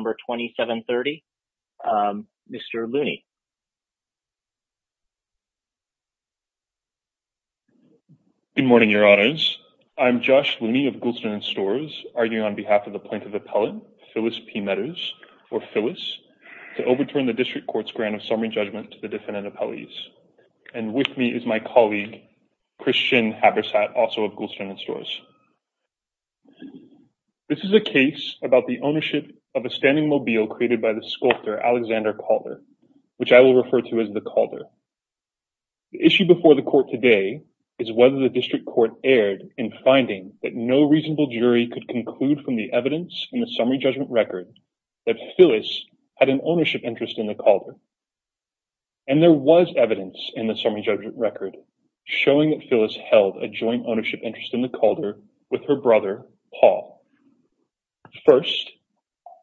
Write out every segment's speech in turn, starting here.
Number 2730. Mr. Looney. Good morning, Your Honors. I'm Josh Looney of Goulston & Storrs, arguing on behalf of the plaintiff appellant, Phyllis P. Meadows, or Phyllis, to overturn the District Court's grant of summary judgment to the defendant appellees. And with me is my colleague, Christian Habersat, also of Goulston & Storrs. This is a case about the ownership of a standing mobile created by the sculptor Alexander Calder, which I will refer to as the Calder. The issue before the court today is whether the District Court erred in finding that no reasonable jury could conclude from the evidence in the summary judgment record that Phyllis had an ownership interest in the Calder. And there was evidence in the summary judgment record showing that Phyllis held a joint ownership interest in the Calder with her brother, Paul. First,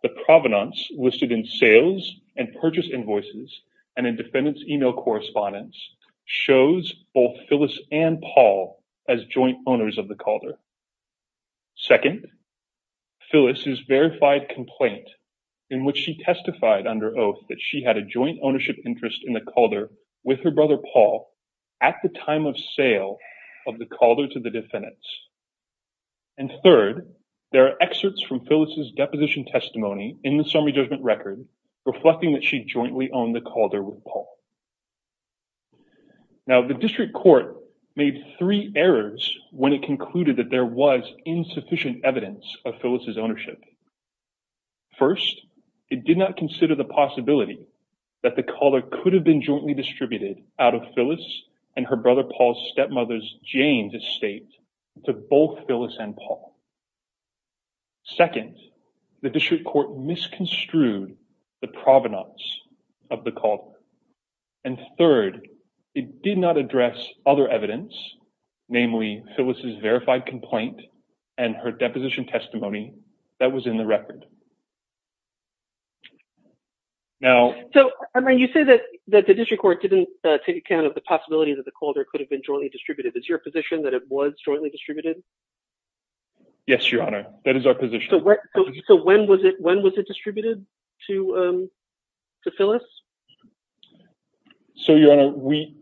the provenance listed in sales and purchase invoices and in defendant's email correspondence shows both Phyllis and Paul as joint owners of the Calder. Second, Phyllis's verified complaint in which she testified under oath that she had a joint ownership interest in the Calder with her brother, Paul, at the time of sale of the Calder to the defendants. And third, there are excerpts from Phyllis's deposition testimony in the summary judgment record reflecting that she jointly owned the Calder with Paul. Now, the District Court made three errors when it concluded that there was insufficient evidence of Phyllis's ownership. First, it did not consider the possibility that the Calder could have been jointly distributed out of Phyllis and her brother Paul's stepmother's Jane's estate to both Phyllis and Paul. Second, the District Court misconstrued the provenance of the Calder. And third, it did not address other evidence, namely Phyllis's verified complaint and her deposition testimony that was in the record. So, you say that the District Court didn't take account of the possibility that the Calder could have been jointly distributed. Is it your position that it was jointly distributed? Yes, Your Honor. That is our position. So, when was it distributed to Phyllis? So, Your Honor, we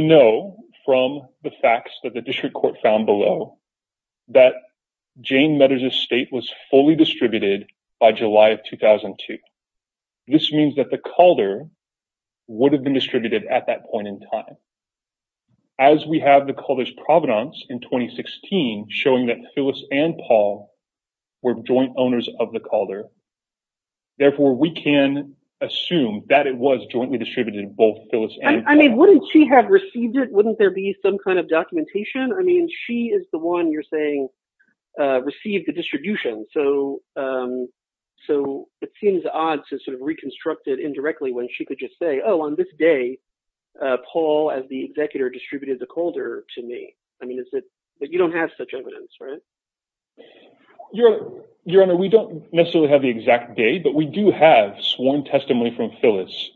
know from the facts that the District Court found below that Jane Meador's estate was fully distributed by July of 2002. This means that the Calder would have been distributed at that point in time. As we have the Calder's provenance in 2016 showing that Phyllis and Paul were joint owners of the Calder, therefore, we can assume that it was jointly distributed in both Phyllis and Paul. I mean, wouldn't she have received it? Wouldn't there be some kind of documentation? I mean, she is the one you're saying received the distribution. So, it seems odd to sort of reconstruct it indirectly when she could just say, oh, on this day, Paul, as the executor, distributed the Calder to me. I mean, you don't have such evidence, right? Your Honor, we don't necessarily have the exact date, but we do have sworn testimony from Phyllis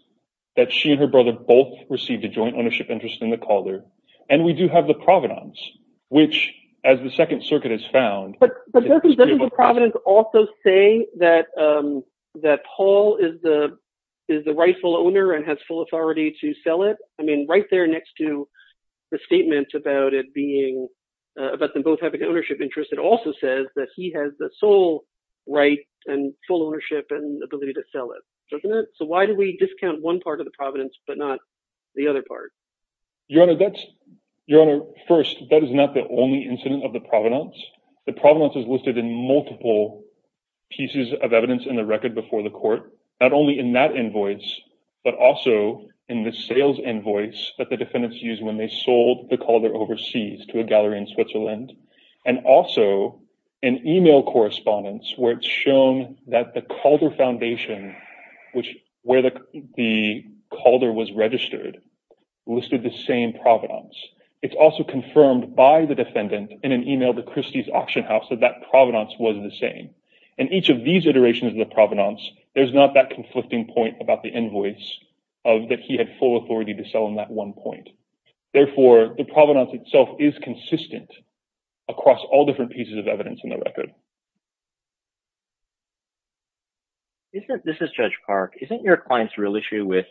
that she and her brother both received a joint ownership interest in the Calder. And we do have the provenance, which, as the Second Circuit has found… But doesn't the provenance also say that Paul is the rightful owner and has full authority to sell it? I mean, right there next to the statement about them both having an ownership interest, it also says that he has the sole right and full ownership and ability to sell it, doesn't it? So, why do we discount one part of the provenance but not the other part? Your Honor, first, that is not the only incident of the provenance. The provenance is listed in multiple pieces of evidence in the record before the court, not only in that invoice, but also in the sales invoice that the defendants used when they sold the Calder overseas to a gallery in Switzerland. And also, an email correspondence where it's shown that the Calder Foundation, where the Calder was registered, listed the same provenance. It's also confirmed by the defendant in an email to Christie's Auction House that that provenance was the same. In each of these iterations of the provenance, there's not that conflicting point about the invoice of that he had full authority to sell in that one point. Therefore, the provenance itself is consistent across all different pieces of evidence in the record. This is Judge Park. Isn't your client's real issue with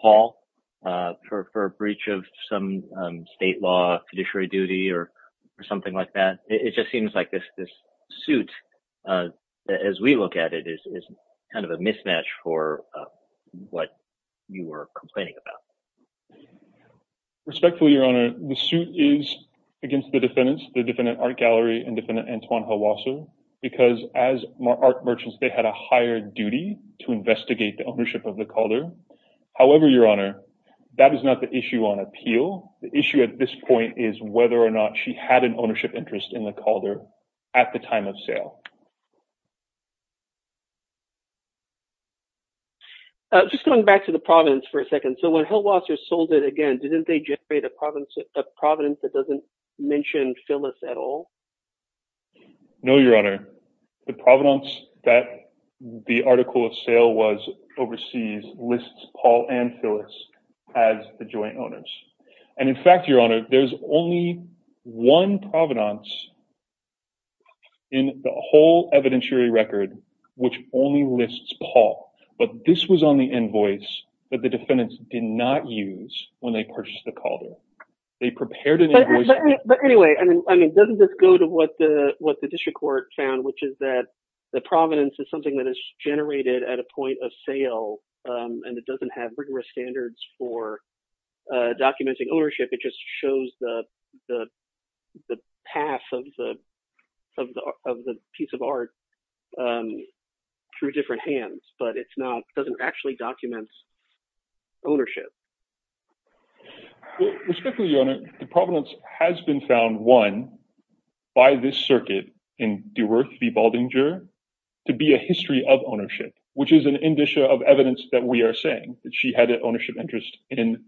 Paul for a breach of some state law, judiciary duty, or something like that? It just seems like this suit, as we look at it, is kind of a mismatch for what you were complaining about. Respectfully, Your Honor, the suit is against the defendants, the defendant Art Gallery and defendant Antoine Helwasser, because as art merchants, they had a higher duty to investigate the ownership of the Calder. However, Your Honor, that is not the issue on appeal. The issue at this point is whether or not she had an ownership interest in the Calder at the time of sale. Just going back to the provenance for a second. So when Helwasser sold it again, didn't they generate a provenance that doesn't mention Phyllis at all? No, Your Honor. The provenance that the article of sale was overseas lists Paul and Phyllis as the joint owners. And in fact, Your Honor, there's only one provenance in the whole evidentiary record which only lists Paul. But this was on the invoice that the defendants did not use when they purchased the Calder. But anyway, I mean, doesn't this go to what the district court found, which is that the provenance is something that is generated at a point of sale, and it doesn't have rigorous standards for documenting ownership. It just shows the path of the piece of art through different hands, but it doesn't actually document ownership. Respectfully, Your Honor, the provenance has been found, one, by this circuit in Deworth v. Baldinger to be a history of ownership, which is an indicia of evidence that we are saying that she had an ownership interest in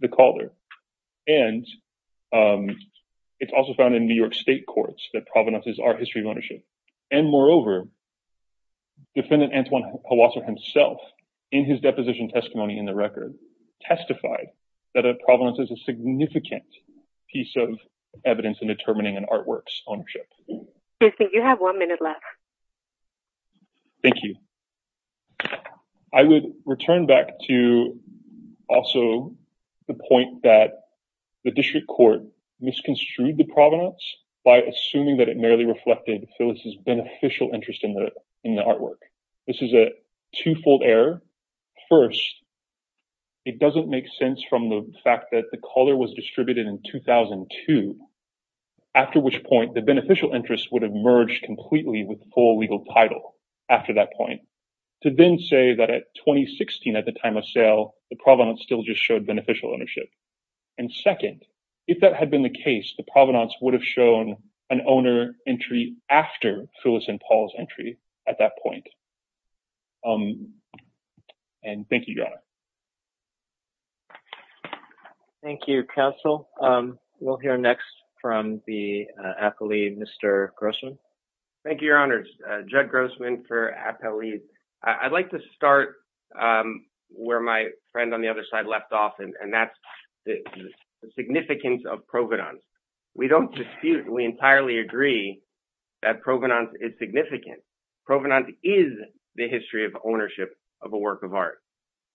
the Calder. And it's also found in New York State courts that provenance is our history of ownership. And moreover, Defendant Antoine Hawasser himself, in his deposition testimony in the record, testified that a provenance is a significant piece of evidence in determining an artwork's ownership. You have one minute left. Thank you. I would return back to also the point that the district court misconstrued the provenance by assuming that it merely reflected Phyllis' beneficial interest in the artwork. This is a twofold error. First, it doesn't make sense from the fact that the Calder was distributed in 2002, after which point the beneficial interest would have merged completely with full legal title after that point, to then say that at 2016 at the time of sale, the provenance still just showed beneficial ownership. And second, if that had been the case, the provenance would have shown an owner entry after Phyllis and Paul's entry at that point. And thank you, Your Honor. Thank you, Counsel. We'll hear next from the appellee, Mr. Grossman. Thank you, Your Honor. Judd Grossman for appellee. I'd like to start where my friend on the other side left off, and that's the significance of provenance. We don't dispute, we entirely agree that provenance is significant. Provenance is the history of ownership of a work of art.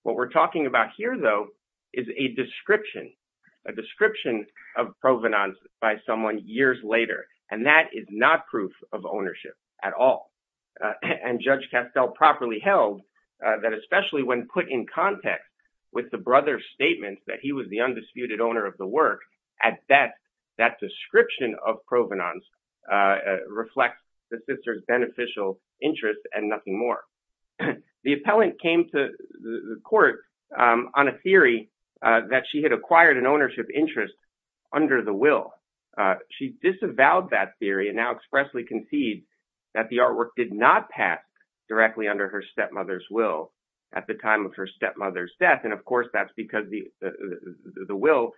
What we're talking about here, though, is a description, a description of provenance by someone years later, and that is not proof of ownership at all. And Judge Castell properly held that especially when put in context with the brother's statements that he was the undisputed owner of the work, at best, that description of provenance reflects the sister's beneficial interest and nothing more. The appellant came to the court on a theory that she had acquired an ownership interest under the will. She disavowed that theory and now expressly concedes that the artwork did not pass directly under her stepmother's will at the time of her stepmother's death. And, of course, that's because the will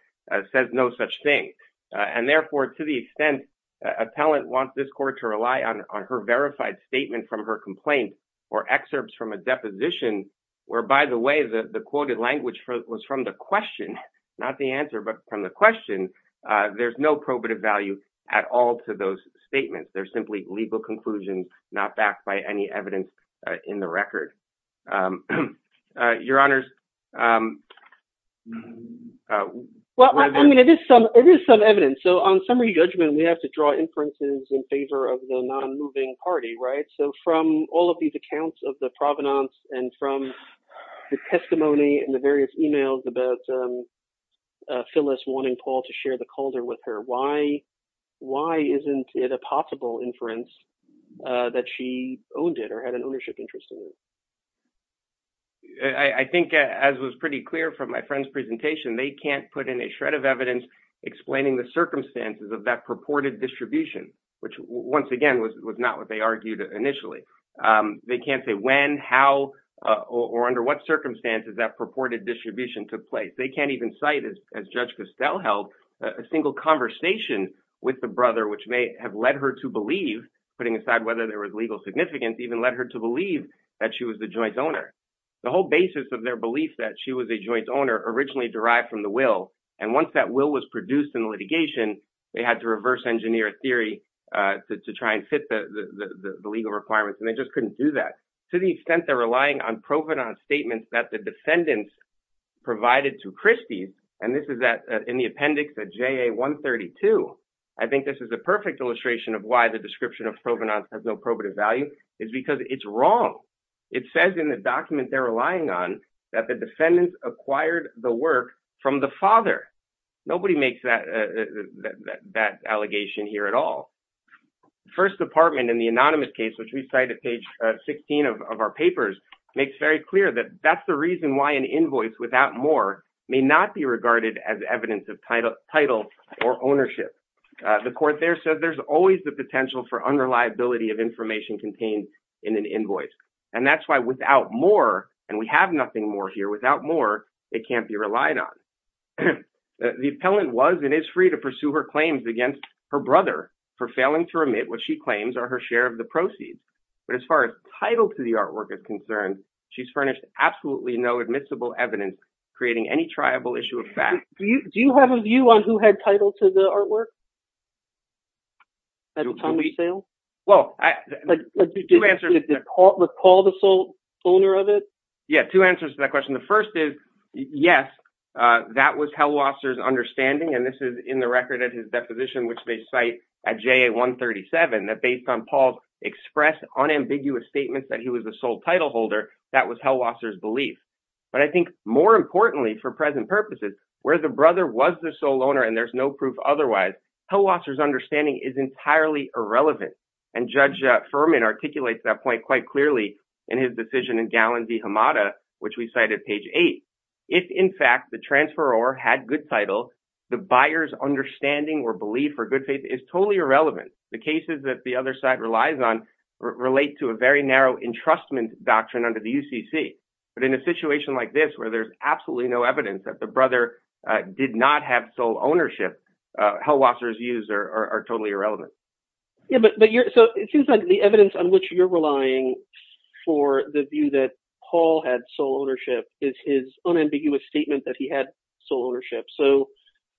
says no such thing. And, therefore, to the extent an appellant wants this court to rely on her verified statement from her complaint or excerpts from a deposition where, by the way, the quoted language was from the question, not the answer, but from the question, there's no probative value at all to those statements. They're simply legal conclusions not backed by any evidence in the record. Your Honor. Well, I mean, it is some evidence. So on summary judgment, we have to draw inferences in favor of the non-moving party. Right. So from all of these accounts of the provenance and from the testimony and the various emails about Phyllis wanting Paul to share the calder with her. Why isn't it a possible inference that she owned it or had an ownership interest in it? I think, as was pretty clear from my friend's presentation, they can't put in a shred of evidence explaining the circumstances of that purported distribution, which, once again, was not what they argued initially. They can't say when, how or under what circumstances that purported distribution took place. They can't even cite, as Judge Costell held, a single conversation with the brother, which may have led her to believe, putting aside whether there was legal significance, even led her to believe that she was the joint owner. The whole basis of their belief that she was a joint owner originally derived from the will. And once that will was produced in litigation, they had to reverse engineer a theory to try and fit the legal requirements. To the extent they're relying on provenance statements that the defendants provided to Christie's, and this is in the appendix at JA 132. I think this is a perfect illustration of why the description of provenance has no probative value is because it's wrong. It says in the document they're relying on that the defendants acquired the work from the father. Nobody makes that allegation here at all. First Department in the anonymous case, which we cite at page 16 of our papers, makes very clear that that's the reason why an invoice without more may not be regarded as evidence of title or ownership. The court there said there's always the potential for unreliability of information contained in an invoice. And that's why without more, and we have nothing more here without more, it can't be relied on. The appellant was and is free to pursue her claims against her brother for failing to remit what she claims are her share of the proceeds. But as far as title to the artwork is concerned, she's furnished absolutely no admissible evidence creating any triable issue of fact. Do you have a view on who had title to the artwork? At the time of sale? Well, two answers. Did they recall the owner of it? Yeah, two answers to that question. The first is, yes, that was Hellwasser's understanding. And this is in the record at his deposition, which they cite at J137, that based on Paul's expressed unambiguous statements that he was a sole title holder. That was Hellwasser's belief. But I think more importantly, for present purposes, where the brother was the sole owner and there's no proof otherwise, Hellwasser's understanding is entirely irrelevant. And Judge Furman articulates that point quite clearly in his decision in Galland v. Hamada, which we cite at page eight. If, in fact, the transferor had good title, the buyer's understanding or belief or good faith is totally irrelevant. The cases that the other side relies on relate to a very narrow entrustment doctrine under the UCC. But in a situation like this where there's absolutely no evidence that the brother did not have sole ownership, Hellwasser's views are totally irrelevant. Yeah, but so it seems like the evidence on which you're relying for the view that Paul had sole ownership is his unambiguous statement that he had sole ownership. So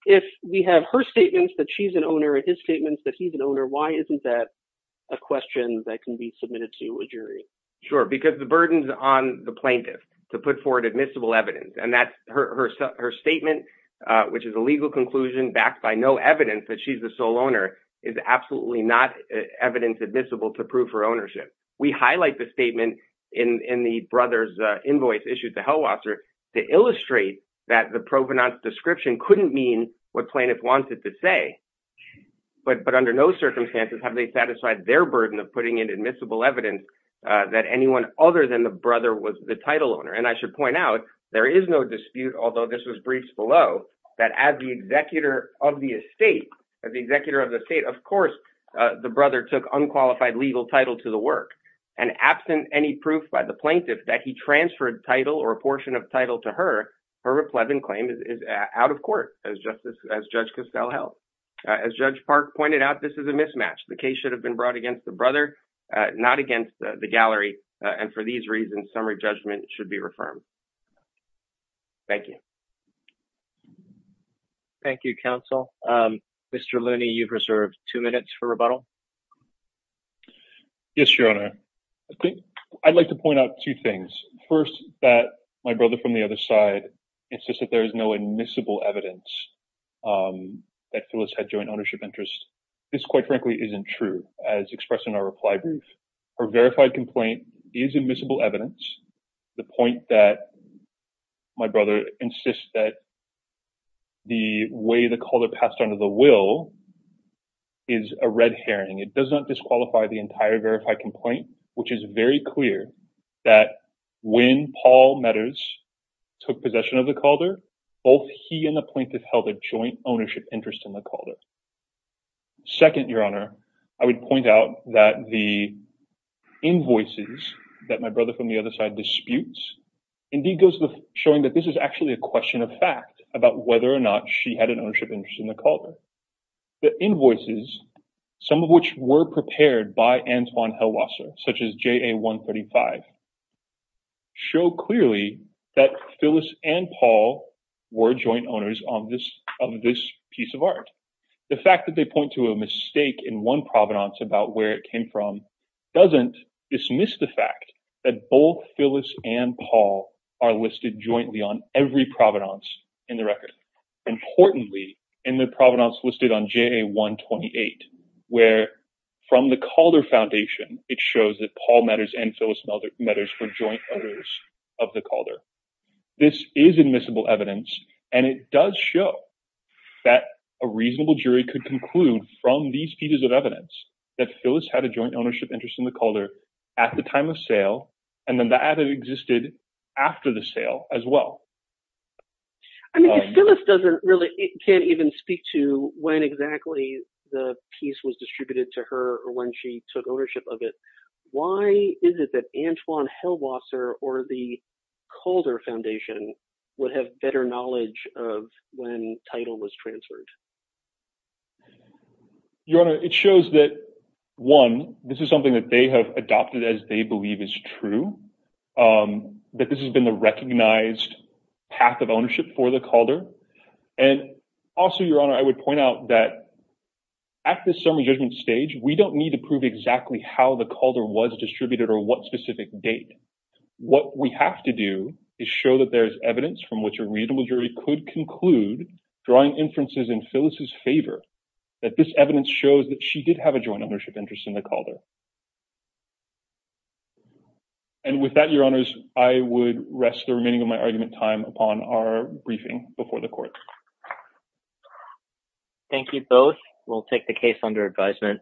if we have her statements that she's an owner and his statements that he's an owner, why isn't that a question that can be submitted to a jury? Sure, because the burden's on the plaintiff to put forward admissible evidence. And that's her statement, which is a legal conclusion backed by no evidence that she's the sole owner, is absolutely not evidence admissible to prove her ownership. We highlight the statement in the brother's invoice issued to Hellwasser to illustrate that the provenance description couldn't mean what plaintiff wanted to say. But under no circumstances have they satisfied their burden of putting in admissible evidence that anyone other than the brother was the title owner. And I should point out, there is no dispute, although this was briefed below, that as the executor of the estate, as the executor of the estate, of course, the brother took unqualified legal title to the work. And absent any proof by the plaintiff that he transferred title or a portion of title to her, her replevin claim is out of court, as Judge Castell held. As Judge Park pointed out, this is a mismatch. The case should have been brought against the brother, not against the gallery. And for these reasons, summary judgment should be reaffirmed. Thank you. Thank you, counsel. Mr. Looney, you've reserved two minutes for rebuttal. Yes, your honor. I think I'd like to point out two things. First, that my brother from the other side insists that there is no admissible evidence that Phyllis had joint ownership interests. This, quite frankly, isn't true, as expressed in our reply brief. Her verified complaint is admissible evidence. The point that. My brother insists that. The way the color passed under the will. Is a red herring. It doesn't disqualify the entire verified complaint, which is very clear that when Paul matters took possession of the Calder, both he and the plaintiff held a joint ownership interest in the Calder. Second, your honor, I would point out that the invoices that my brother from the other side disputes indeed goes with showing that this is actually a question of fact about whether or not she had an ownership interest in the Calder. The invoices, some of which were prepared by Antoine Hellwasser, such as J.A. 135, show clearly that Phyllis and Paul were joint owners of this piece of art. The fact that they point to a mistake in one provenance about where it came from doesn't dismiss the fact that both Phyllis and Paul are listed jointly on every provenance in the record. Importantly, in the provenance listed on J.A. 128, where from the Calder Foundation, it shows that Paul matters and Phyllis matters for joint owners of the Calder. This is admissible evidence, and it does show that a reasonable jury could conclude from these pieces of evidence that Phyllis had a joint ownership interest in the Calder at the time of sale, and that it existed after the sale as well. I mean, if Phyllis can't even speak to when exactly the piece was distributed to her or when she took ownership of it, why is it that Antoine Hellwasser or the Calder Foundation would have better knowledge of when title was transferred? Your Honor, it shows that, one, this is something that they have adopted as they believe is true, that this has been the recognized path of ownership for the Calder, and also, Your Honor, I would point out that at this summary judgment stage, we don't need to prove exactly how the Calder was distributed or what specific date. What we have to do is show that there's evidence from which a reasonable jury could conclude, drawing inferences in Phyllis' favor, that this evidence shows that she did have a joint ownership interest in the Calder. And with that, Your Honors, I would rest the remaining of my argument time upon our briefing before the Court. Thank you both. We'll take the case under advisement.